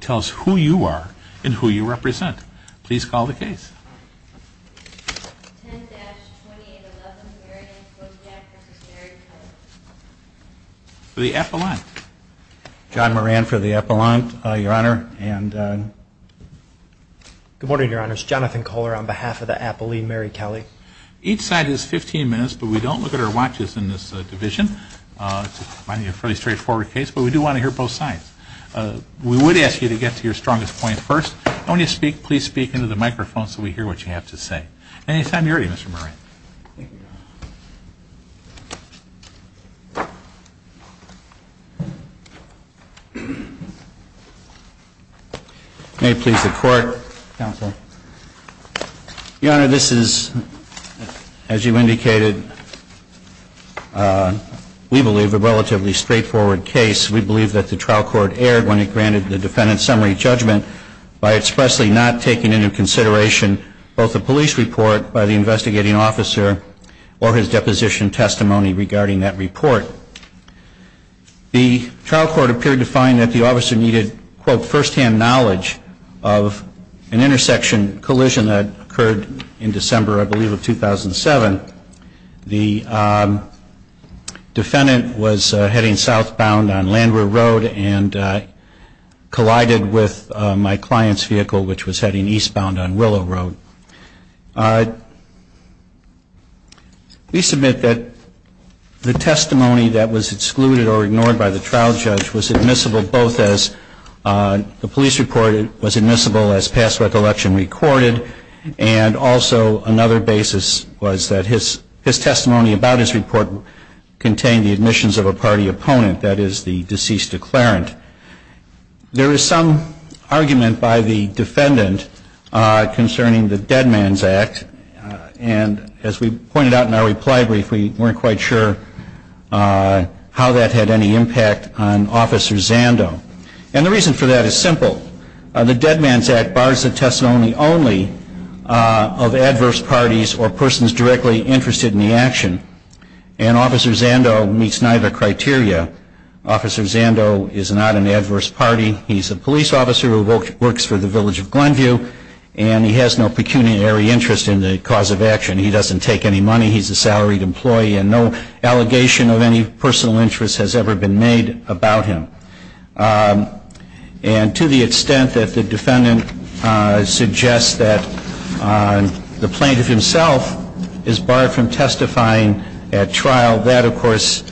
Tell us who you are and who you represent. Please call the case. 10-2811 Marion Kociscak v. Mary Kelly For the Appellant. John Moran for the Appellant, Your Honor. Good morning, Your Honor. It's Jonathan Kohler on behalf of the Appellee Mary Kelly. Each side has 15 minutes, but we don't look at our watches in this division. It's a fairly straightforward case, but we do want to hear both sides. We would ask you to get to your strongest point first. When you speak, please speak into the microphone so we hear what you have to say. Any time you're ready, Mr. Moran. May it please the Court, Counsel. Your Honor, this is, as you indicated, we believe a relatively straightforward case. We believe that the trial court erred when it granted the defendant's summary judgment by expressly not taking into consideration both the police report by the investigating officer or his deposition testimony regarding that report. The trial court appeared to find that the officer needed, quote, firsthand knowledge of an intersection collision that occurred in December, I believe, of 2007. The defendant was heading southbound on Landwehr Road and collided with my client's vehicle, which was heading eastbound on Willow Road. We submit that the testimony that was excluded or ignored by the trial judge was admissible both as the police report was admissible as past recollection recorded, and also another basis was that his testimony about his report contained the admissions of a party opponent, that is, the deceased declarant. There is some argument by the defendant concerning the Dead Man's Act, and as we pointed out in our reply brief, we weren't quite sure how that had any impact on Officer Zando. And the reason for that is simple. The Dead Man's Act bars the testimony only of adverse parties or persons directly interested in the action, and Officer Zando meets neither criteria. Officer Zando is not an adverse party. He's a police officer who works for the Village of Glenview, and he has no pecuniary interest in the cause of action. He doesn't take any money. He's a salaried employee, and no allegation of any personal interest has ever been made about him. And to the extent that the defendant suggests that the plaintiff himself is barred from testifying at trial, that, of course,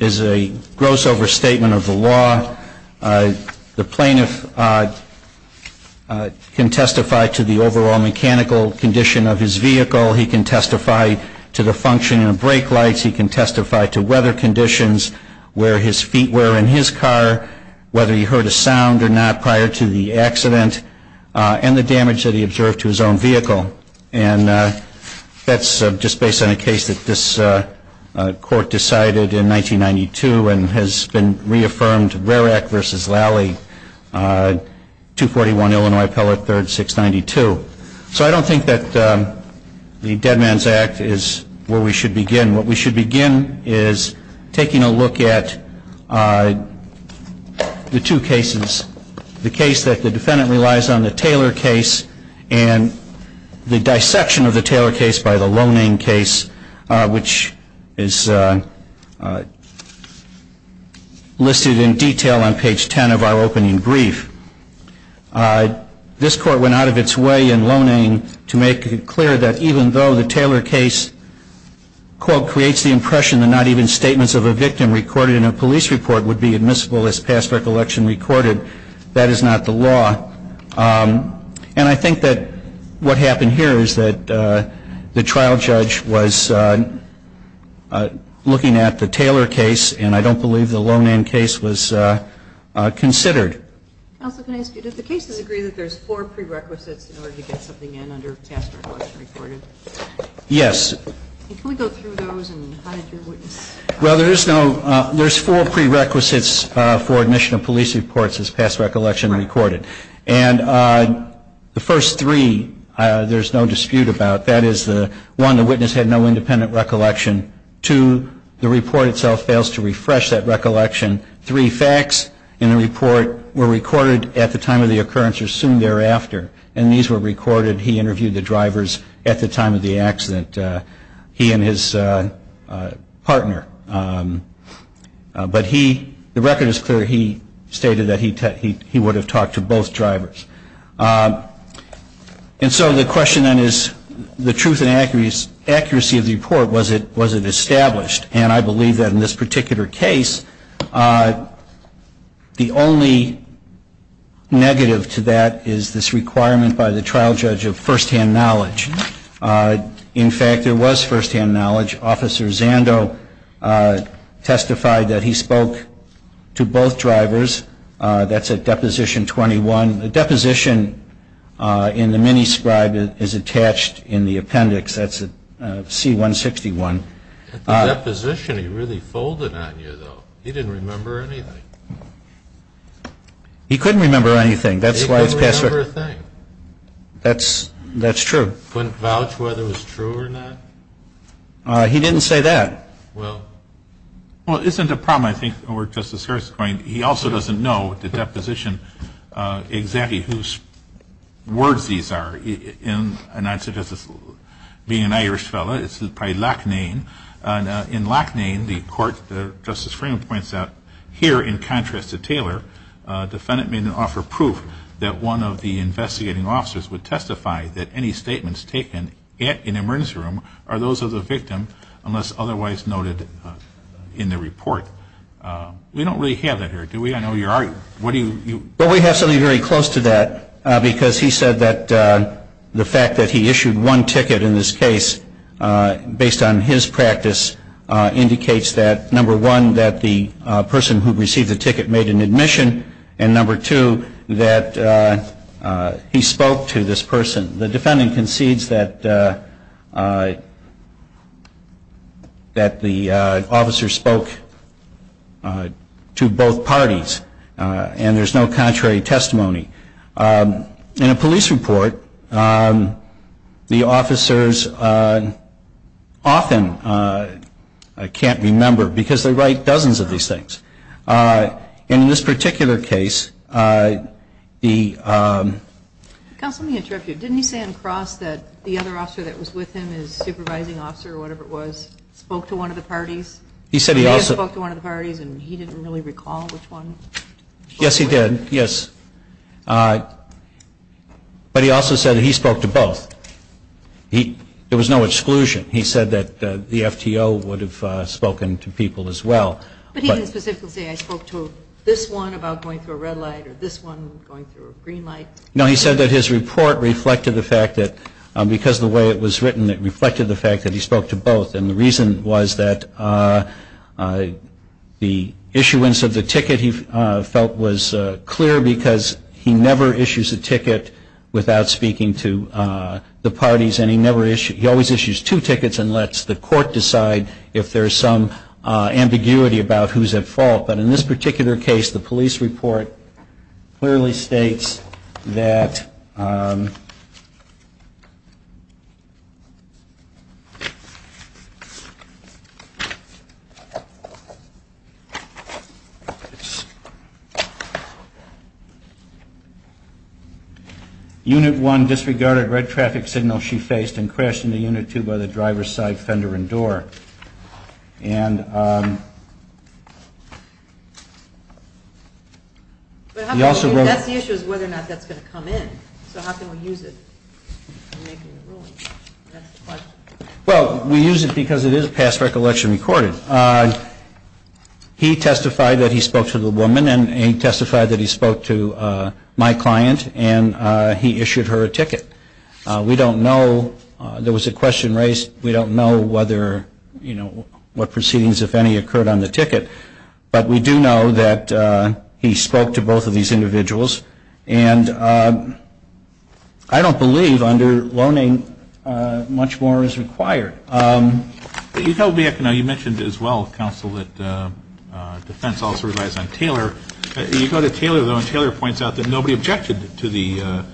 is a gross overstatement of the law. The plaintiff can testify to the overall mechanical condition of his vehicle. He can testify to the functioning of brake lights. He can testify to weather conditions, where his feet were in his car, whether he heard a sound or not prior to the accident, and the damage that he observed to his own vehicle. And that's just based on a case that this Court decided in 1992 and has been reaffirmed, Rarack v. Lally, 241 Illinois Appellate 3rd, 692. So I don't think that the Dead Man's Act is where we should begin. What we should begin is taking a look at the two cases, the case that the defendant relies on, the Taylor case, and the dissection of the Taylor case by the Loning case, which is listed in detail on page 10 of our opening brief. This Court went out of its way in Loning to make it clear that even though the Taylor case, quote, creates the impression that not even statements of a victim recorded in a police report would be admissible as past recollection recorded, that is not the law. And I think that what happened here is that the trial judge was looking at the Taylor case, and I don't believe the Loning case was considered. Counsel, can I ask you, do the cases agree that there's four prerequisites in order to get something in under past recollection recorded? Yes. Can we go through those and how did your witness? Well, there's four prerequisites for admission of police reports as past recollection recorded. And the first three there's no dispute about. That is, one, the witness had no independent recollection. Two, the report itself fails to refresh that recollection. Three, facts in the report were recorded at the time of the occurrence or soon thereafter, and these were recorded. He interviewed the drivers at the time of the accident, he and his partner. But the record is clear. He stated that he would have talked to both drivers. And so the question then is, the truth and accuracy of the report, was it established? And I believe that in this particular case, the only negative to that is this requirement by the trial judge of firsthand knowledge. In fact, there was firsthand knowledge. Officer Zando testified that he spoke to both drivers. That's at Deposition 21. And the deposition in the mini scribe is attached in the appendix. That's at C-161. At the deposition, he really folded on you, though. He didn't remember anything. He couldn't remember anything. He couldn't remember a thing. That's true. Couldn't vouch whether it was true or not. He didn't say that. Well. Well, it isn't a problem, I think, where Justice Harris is going. He also doesn't know, at the deposition, exactly whose words these are. And I'd suggest, being an Irish fellow, it's probably Loughnane. In Loughnane, the court, Justice Freeman points out, here, in contrast to Taylor, the defendant made an offer of proof that one of the investigating officers would testify that any statements taken in the emergency room are those of the victim unless otherwise noted in the report. We don't really have that here, do we? I know you are. What do you? Well, we have something very close to that. Because he said that the fact that he issued one ticket in this case, based on his practice, indicates that, number one, that the person who received the ticket made an admission, and, number two, that he spoke to this person. The defendant concedes that the officer spoke to both parties, and there's no contrary testimony. In a police report, the officers often can't remember because they write dozens of these things. In this particular case, the... Counsel, let me interrupt you. Didn't he say on the cross that the other officer that was with him, his supervising officer, or whatever it was, spoke to one of the parties? He said he also... He spoke to one of the parties, and he didn't really recall which one? Yes, he did, yes. But he also said that he spoke to both. There was no exclusion. He said that the FTO would have spoken to people as well. But he didn't specifically say, I spoke to this one about going through a red light, or this one going through a green light? No, he said that his report reflected the fact that, because the way it was written, it reflected the fact that he spoke to both, and the reason was that the issuance of the ticket, he felt, was clear because he never issues a ticket without speaking to the parties, and he always issues two tickets and lets the court decide if there's some ambiguity about who's at fault. But in this particular case, the police report clearly states that... And that's the issue is whether or not that's going to come in. So how can we use it in making a ruling? Well, we use it because it is past recollection recorded. He testified that he spoke to the woman, and he testified that he spoke to my client, and he issued her a ticket. We don't know. There was a question raised. We don't know whether, you know, what proceedings, if any, occurred on the ticket. But we do know that he spoke to both of these individuals, and I don't believe under loaning much more is required. You told me, you know, you mentioned as well, counsel, that defense also relies on Taylor. You go to Taylor, though, and Taylor points out that nobody objected to the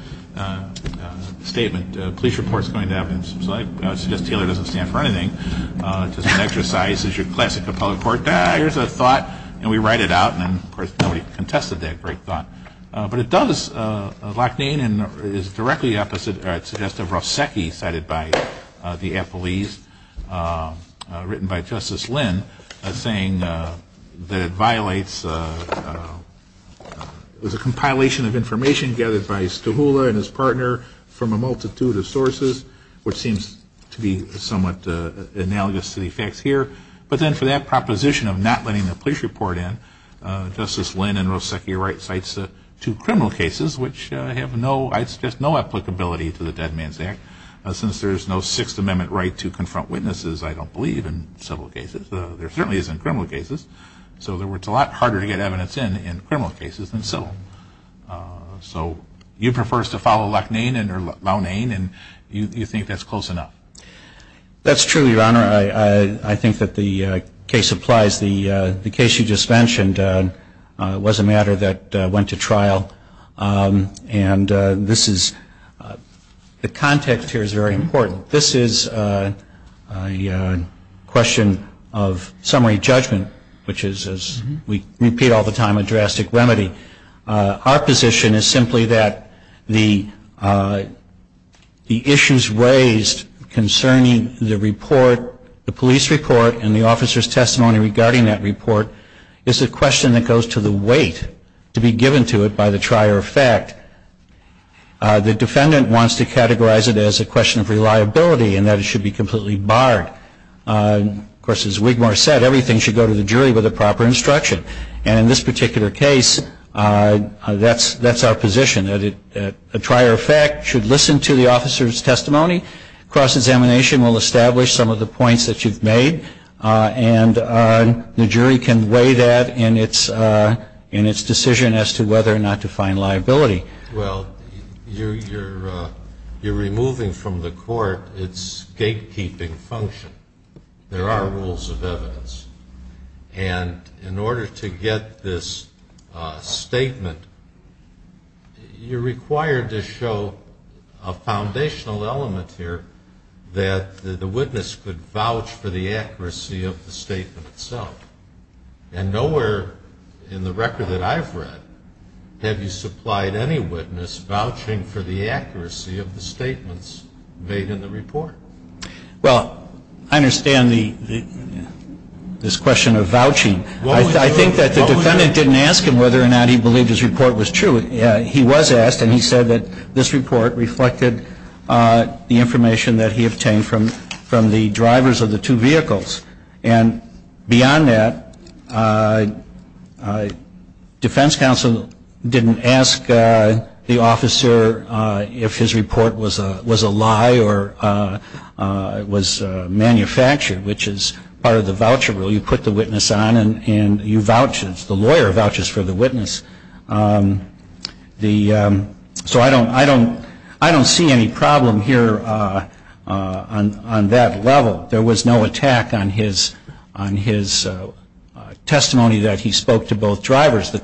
statement, police reports going to evidence. So I suggest Taylor doesn't stand for anything. It's just an exercise. It's your classic appellate court. Ah, here's a thought, and we write it out. And, of course, nobody contested that great thought. But it does lack name and is directly opposite or suggestive of Rosecchi, cited by the appellees, written by Justice Lynn, saying that it violates a compilation of information gathered by Stuhula and his partner from a multitude of sources, which seems to be somewhat analogous to the facts here. But then for that proposition of not letting the police report in, Justice Lynn and Rosecchi write cites two criminal cases, which have no applicability to the Dead Man's Act, since there's no Sixth Amendment right to confront witnesses, I don't believe, in several cases. There certainly isn't in criminal cases. So, in other words, it's a lot harder to get evidence in in criminal cases than civil. So you prefer us to follow lack name or law name, and you think that's close enough? That's true, Your Honor. I think that the case applies. The case you just mentioned was a matter that went to trial, and this is the context here is very important. So this is a question of summary judgment, which is, as we repeat all the time, a drastic remedy. Our position is simply that the issues raised concerning the report, the police report, and the officer's testimony regarding that report, is a question that goes to the weight to be given to it by the trier of fact. The defendant wants to categorize it as a question of reliability, and that it should be completely barred. Of course, as Wigmore said, everything should go to the jury with the proper instruction. And in this particular case, that's our position, that a trier of fact should listen to the officer's testimony. Cross-examination will establish some of the points that you've made, and the jury can weigh that in its decision as to whether or not to find liability. Well, you're removing from the court its gatekeeping function. There are rules of evidence, and in order to get this statement, you're required to show a foundational element here, that the witness could vouch for the accuracy of the statement itself. And nowhere in the record that I've read have you supplied any witness vouching for the accuracy of the statements made in the report. Well, I understand this question of vouching. I think that the defendant didn't ask him whether or not he believed his report was true. He was asked, and he said that this report reflected the information that he obtained from the drivers of the two vehicles. And beyond that, defense counsel didn't ask the officer if his report was a lie or was manufactured, which is part of the voucher rule. You put the witness on, and the lawyer vouches for the witness. So I don't see any problem here on that level. There was no attack on his testimony that he spoke to both drivers. The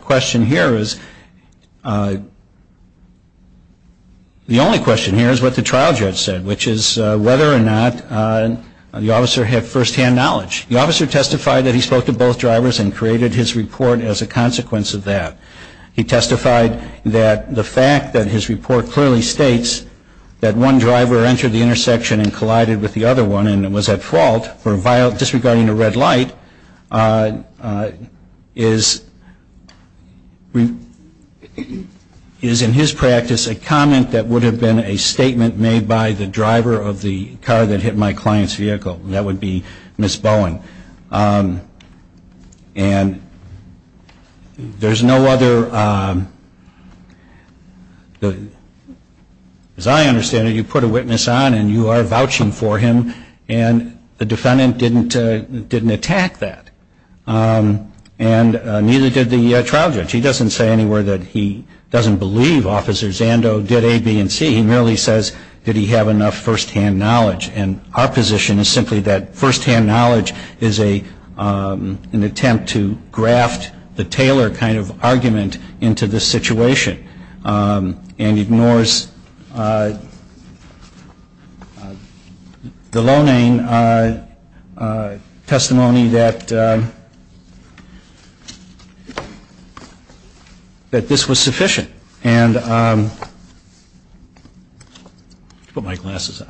only question here is what the trial judge said, which is whether or not the officer had firsthand knowledge. The officer testified that he spoke to both drivers and created his report as a consequence of that. He testified that the fact that his report clearly states that one driver entered the intersection and collided with the other one and was at fault for disregarding a red light is, in his practice, a comment that would have been a statement made by the driver of the car that hit my client's vehicle. That would be Ms. Bowen. And there's no other, as I understand it, you put a witness on and you are vouching for him, and the defendant didn't attack that. And neither did the trial judge. He doesn't say anywhere that he doesn't believe Officer Zando did A, B, and C. He merely says, did he have enough firsthand knowledge? And our position is simply that firsthand knowledge is an attempt to graft the Taylor kind of argument into the situation and ignores the loaning testimony that this was sufficient. And let me put my glasses on.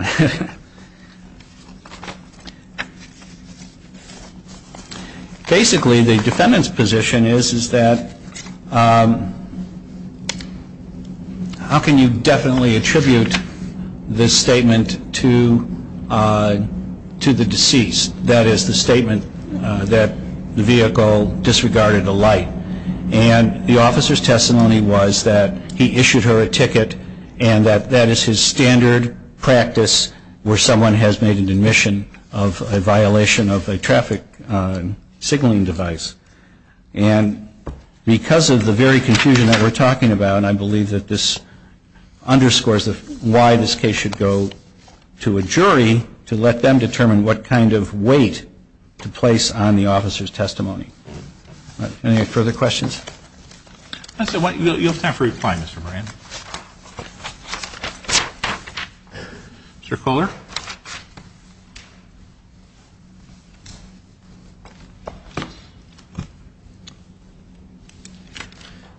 Basically, the defendant's position is that, how can you definitely attribute this statement to the deceased? That is, the statement that the vehicle disregarded a light. And the officer's testimony was that he issued her a ticket And that is his standard practice where someone has made an admission of a violation of a traffic signaling device. And because of the very confusion that we're talking about, I believe that this underscores why this case should go to a jury to let them determine what kind of weight to place on the officer's testimony. Any further questions? You'll have time for reply, Mr. Moran. Mr. Kohler?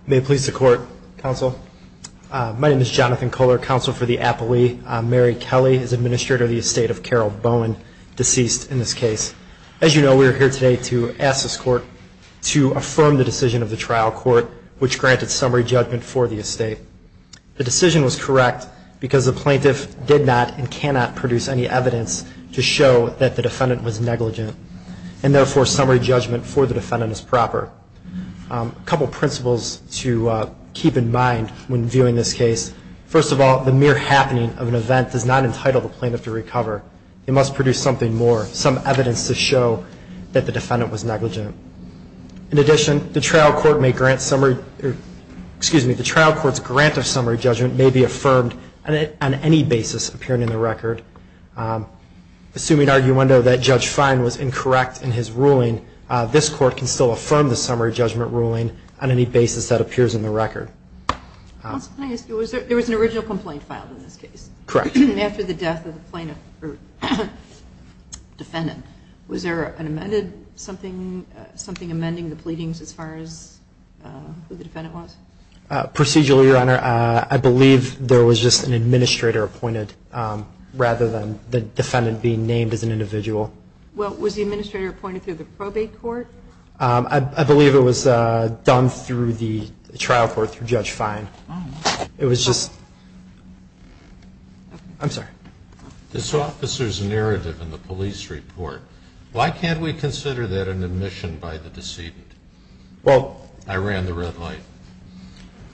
May it please the Court, Counsel. My name is Jonathan Kohler, Counsel for the Appellee. Mary Kelly is Administrator of the Estate of Carol Bowen, deceased in this case. As you know, we are here today to ask this Court to affirm the decision of the trial court, which granted summary judgment for the estate. The decision was correct because the plaintiff did not and cannot produce any evidence to show that the defendant was negligent. And therefore, summary judgment for the defendant is proper. A couple principles to keep in mind when viewing this case. First of all, the mere happening of an event does not entitle the plaintiff to recover. It must produce something more, some evidence to show that the defendant was negligent. In addition, the trial court's grant of summary judgment may be affirmed on any basis appearing in the record. Assuming arguendo that Judge Fine was incorrect in his ruling, this Court can still affirm the summary judgment ruling on any basis that appears in the record. There was an original complaint filed in this case. Correct. After the death of the defendant. Was there something amending the pleadings as far as who the defendant was? Procedurally, Your Honor, I believe there was just an administrator appointed rather than the defendant being named as an individual. Well, was the administrator appointed through the probate court? I believe it was done through the trial court through Judge Fine. It was just... I'm sorry. This officer's narrative in the police report. Why can't we consider that an admission by the decedent? I ran the red light.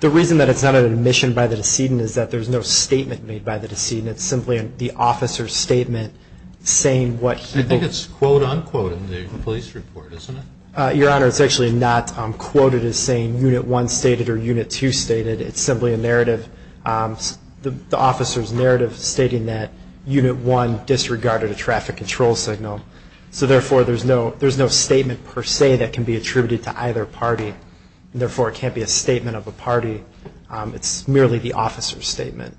The reason that it's not an admission by the decedent is that there's no statement made by the decedent. It's simply the officer's statement saying what he... I think it's quote unquote in the police report, isn't it? Your Honor, it's actually not quoted as saying Unit 1 stated or Unit 2 stated. It's simply a narrative, the officer's narrative, stating that Unit 1 disregarded a traffic control signal. So therefore, there's no statement per se that can be attributed to either party. Therefore, it can't be a statement of a party. It's merely the officer's statement.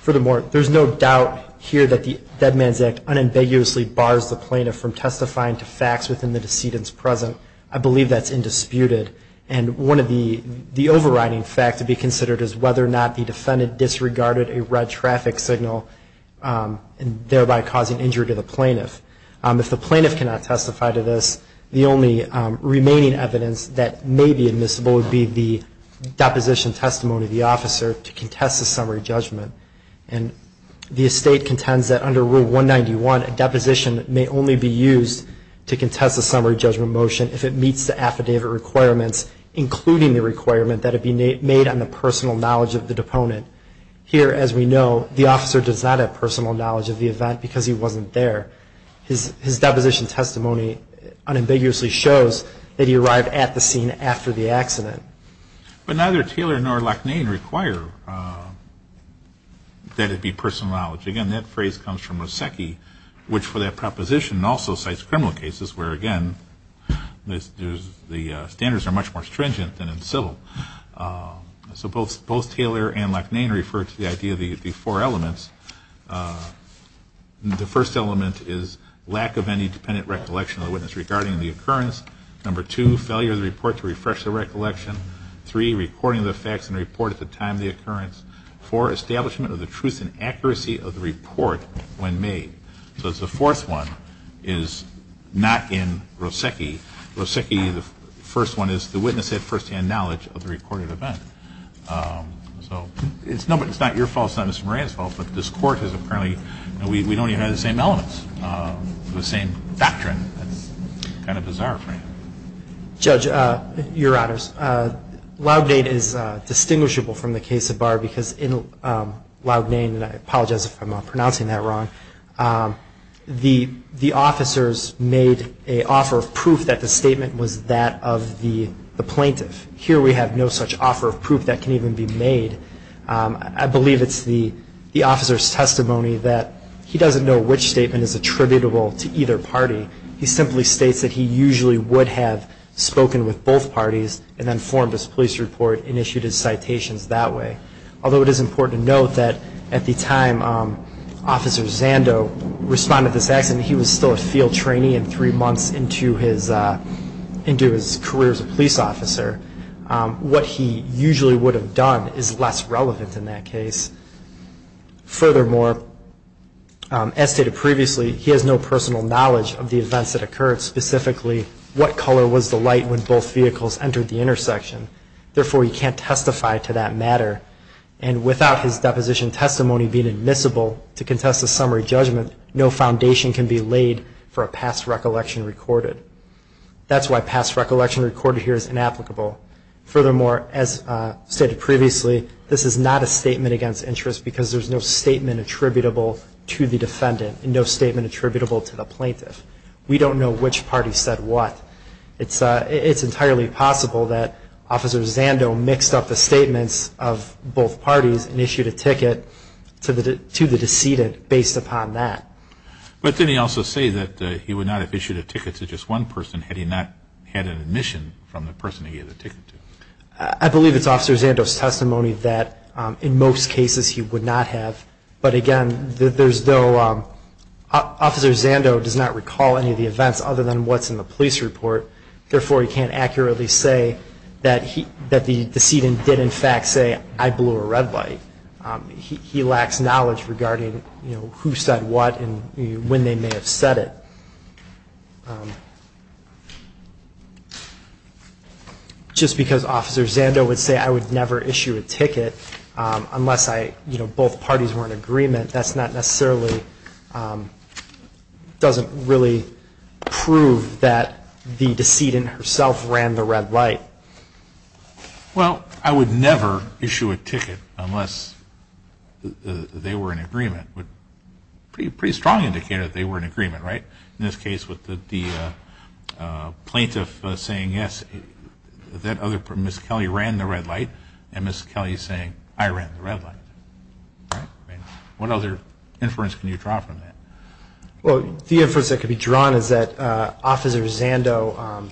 Furthermore, there's no doubt here that the Dead Man's Act unambiguously bars the plaintiff from testifying to facts within the decedent's presence. I believe that's indisputed. And one of the overriding facts to be considered is whether or not the defendant disregarded a red traffic signal, thereby causing injury to the plaintiff. If the plaintiff cannot testify to this, the only remaining evidence that may be admissible would be the deposition testimony of the officer to contest a summary judgment. And the estate contends that under Rule 191, a deposition may only be used to contest a summary judgment motion if it meets the affidavit requirements, including the requirement that it be made on the personal knowledge of the deponent. Here, as we know, the officer does not have personal knowledge of the event because he wasn't there. His deposition testimony unambiguously shows that he arrived at the scene after the accident. But neither Taylor nor Lachnane require that it be personal knowledge. Again, that phrase comes from Rusecki, which for that proposition also cites criminal cases, where, again, the standards are much more stringent than in civil. So both Taylor and Lachnane refer to the idea of the four elements. The first element is lack of any dependent recollection of the witness regarding the occurrence. Number two, failure of the report to refresh the recollection. Three, recording of the facts and report at the time of the occurrence. Four, establishment of the truth and accuracy of the report when made. So the fourth one is not in Rusecki. Rusecki, the first one, is the witness had firsthand knowledge of the recorded event. So it's not your fault. It's not Mr. Moran's fault. But this Court has apparently, we don't even have the same elements, the same doctrine. That's kind of bizarre for you. Judge, Your Honors, Lachnane is distinguishable from the case of Barr because in Lachnane, and I apologize if I'm pronouncing that wrong, the officers made an offer of proof that the statement was that of the plaintiff. Here we have no such offer of proof that can even be made. I believe it's the officer's testimony that he doesn't know which statement is attributable to either party. He simply states that he usually would have spoken with both parties and then formed his police report and issued his citations that way. Although it is important to note that at the time Officer Zando responded to this accident, he was still a field trainee and three months into his career as a police officer. What he usually would have done is less relevant in that case. Furthermore, as stated previously, he has no personal knowledge of the events that occurred, specifically what color was the light when both vehicles entered the intersection. Therefore, he can't testify to that matter. And without his deposition testimony being admissible to contest a summary judgment, no foundation can be laid for a past recollection recorded. That's why past recollection recorded here is inapplicable. Furthermore, as stated previously, this is not a statement against interest because there's no statement attributable to the defendant and no statement attributable to the plaintiff. We don't know which party said what. It's entirely possible that Officer Zando mixed up the statements of both parties and issued a ticket to the decedent based upon that. But didn't he also say that he would not have issued a ticket to just one person had he not had an admission from the person he gave the ticket to? I believe it's Officer Zando's testimony that in most cases he would not have. But, again, there's no – Officer Zando does not recall any of the events other than what's in the police report. Therefore, he can't accurately say that the decedent did, in fact, say, I blew a red light. He lacks knowledge regarding who said what and when they may have said it. Just because Officer Zando would say I would never issue a ticket unless both parties were in agreement, that's not necessarily – doesn't really prove that the decedent herself ran the red light. Well, I would never issue a ticket unless they were in agreement. Pretty strong indicator that they were in agreement, right? In this case, with the plaintiff saying, yes, that other – Ms. Kelly ran the red light and Ms. Kelly saying, I ran the red light. All right. I mean, what other inference can you draw from that? Well, the inference that could be drawn is that Officer Zando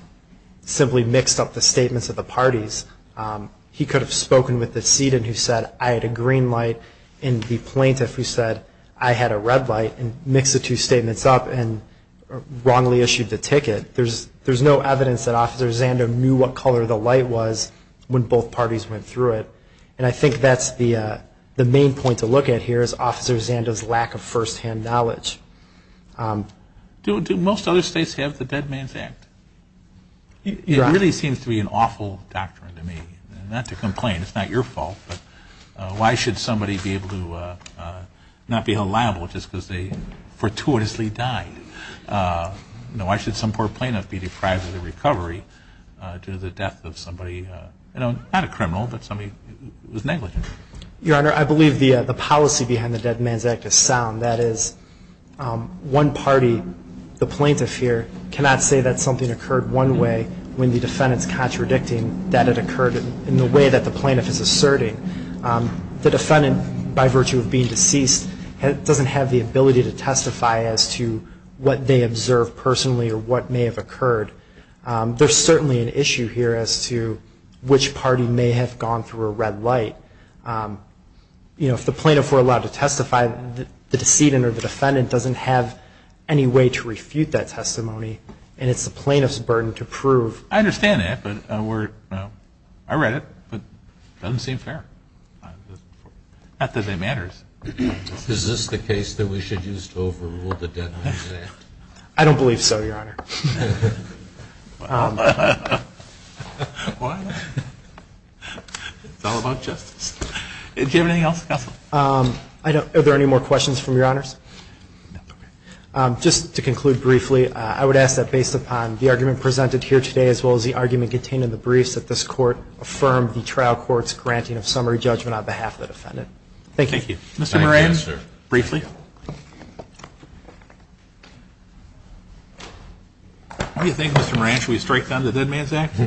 simply mixed up the statements of the parties. He could have spoken with the decedent who said I had a green light and the plaintiff who said I had a red light and mixed the two statements up and wrongly issued the ticket. There's no evidence that Officer Zando knew what color the light was when both parties went through it. And I think that's the main point to look at here is Officer Zando's lack of firsthand knowledge. Do most other states have the Dead Man's Act? It really seems to be an awful doctrine to me. Not to complain. It's not your fault. But why should somebody be able to not be held liable just because they fortuitously died? Why should some poor plaintiff be deprived of the recovery due to the death of somebody – not a criminal, but somebody who was negligent? Your Honor, I believe the policy behind the Dead Man's Act is sound. That is, one party, the plaintiff here, cannot say that something occurred one way when the defendant is contradicting that it occurred in the way that the plaintiff is asserting. The defendant, by virtue of being deceased, doesn't have the ability to testify as to what they observed personally or what may have occurred. There's certainly an issue here as to which party may have gone through a red light. You know, if the plaintiff were allowed to testify, the decedent or the defendant doesn't have any way to refute that testimony, and it's the plaintiff's burden to prove. I understand that, but we're – I read it, but it doesn't seem fair. Not that it matters. Is this the case that we should use to overrule the Dead Man's Act? I don't believe so, Your Honor. Why not? It's all about justice. Do you have anything else, Counsel? Are there any more questions from Your Honors? Just to conclude briefly, I would ask that based upon the argument presented here today as well as the argument contained in the briefs, that this Court affirm the trial court's granting of summary judgment on behalf of the defendant. Thank you. Thank you. Mr. Moran, briefly. What do you think, Mr. Moran? Should we strike down the Dead Man's Act?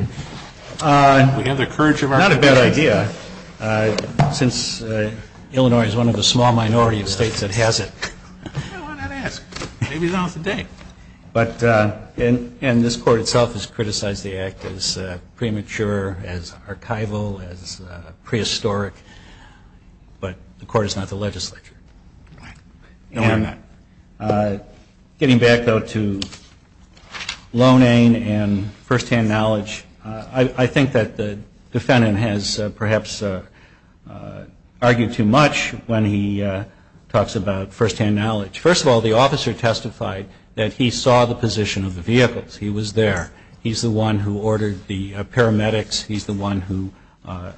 Not a bad idea, since Illinois is one of the small minority of states that has it. Why not ask? Maybe it's on for the day. And this Court itself has criticized the act as premature, as archival, as prehistoric, but the Court is not the legislature. All right. No, we're not. Getting back, though, to loaning and firsthand knowledge, I think that the defendant has perhaps argued too much when he talks about firsthand knowledge. First of all, the officer testified that he saw the position of the vehicles. He was there. He's the one who ordered the paramedics. He's the one who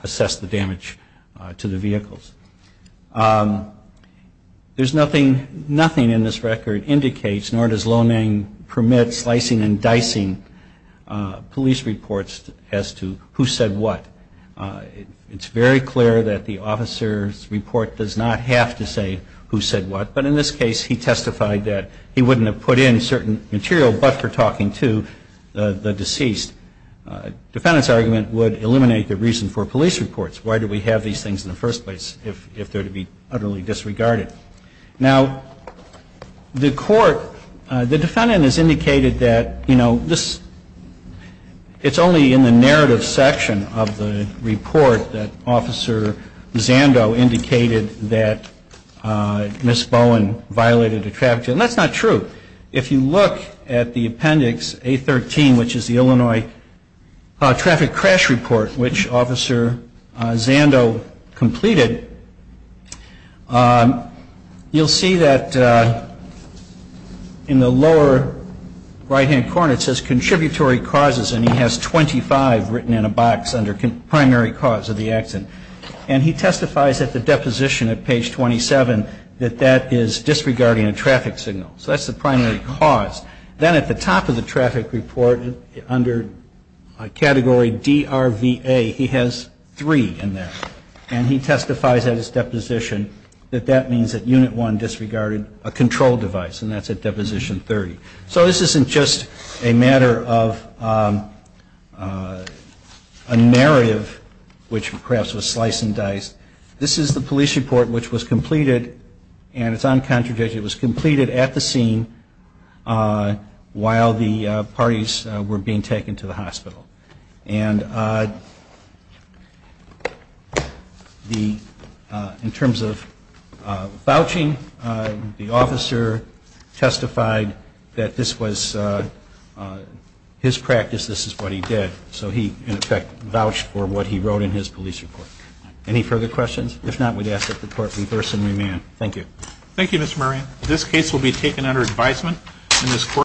assessed the damage to the vehicles. There's nothing in this record indicates, nor does loaning permit slicing and dicing police reports as to who said what. It's very clear that the officer's report does not have to say who said what, but in this case he testified that he wouldn't have put in certain material but for talking to the deceased. The defendant's argument would eliminate the reason for police reports. Why do we have these things in the first place if they're to be utterly disregarded? Now, the Court, the defendant has indicated that, you know, it's only in the narrative section of the report that Officer Zando indicated that Ms. Bowen violated a traffic law. And that's not true. If you look at the appendix A13, which is the Illinois traffic crash report, which Officer Zando completed, you'll see that in the lower right-hand corner it says contributory causes, and he has 25 written in a box under primary cause of the accident. And he testifies at the deposition at page 27 that that is disregarding a traffic signal. So that's the primary cause. Then at the top of the traffic report, under category DRVA, he has three in there. And he testifies at his deposition that that means that Unit 1 disregarded a control device, and that's at Deposition 30. So this isn't just a matter of a narrative, which perhaps was slice and dice. This is the police report which was completed, and it's uncontradicted. It was completed at the scene while the parties were being taken to the hospital. And in terms of vouching, the officer testified that this was his practice, this is what he did. So he, in effect, vouched for what he wrote in his police report. Any further questions? If not, we'd ask that the Court reverse and remand. Thank you. Thank you, Mr. Murray. This case will be taken under advisement.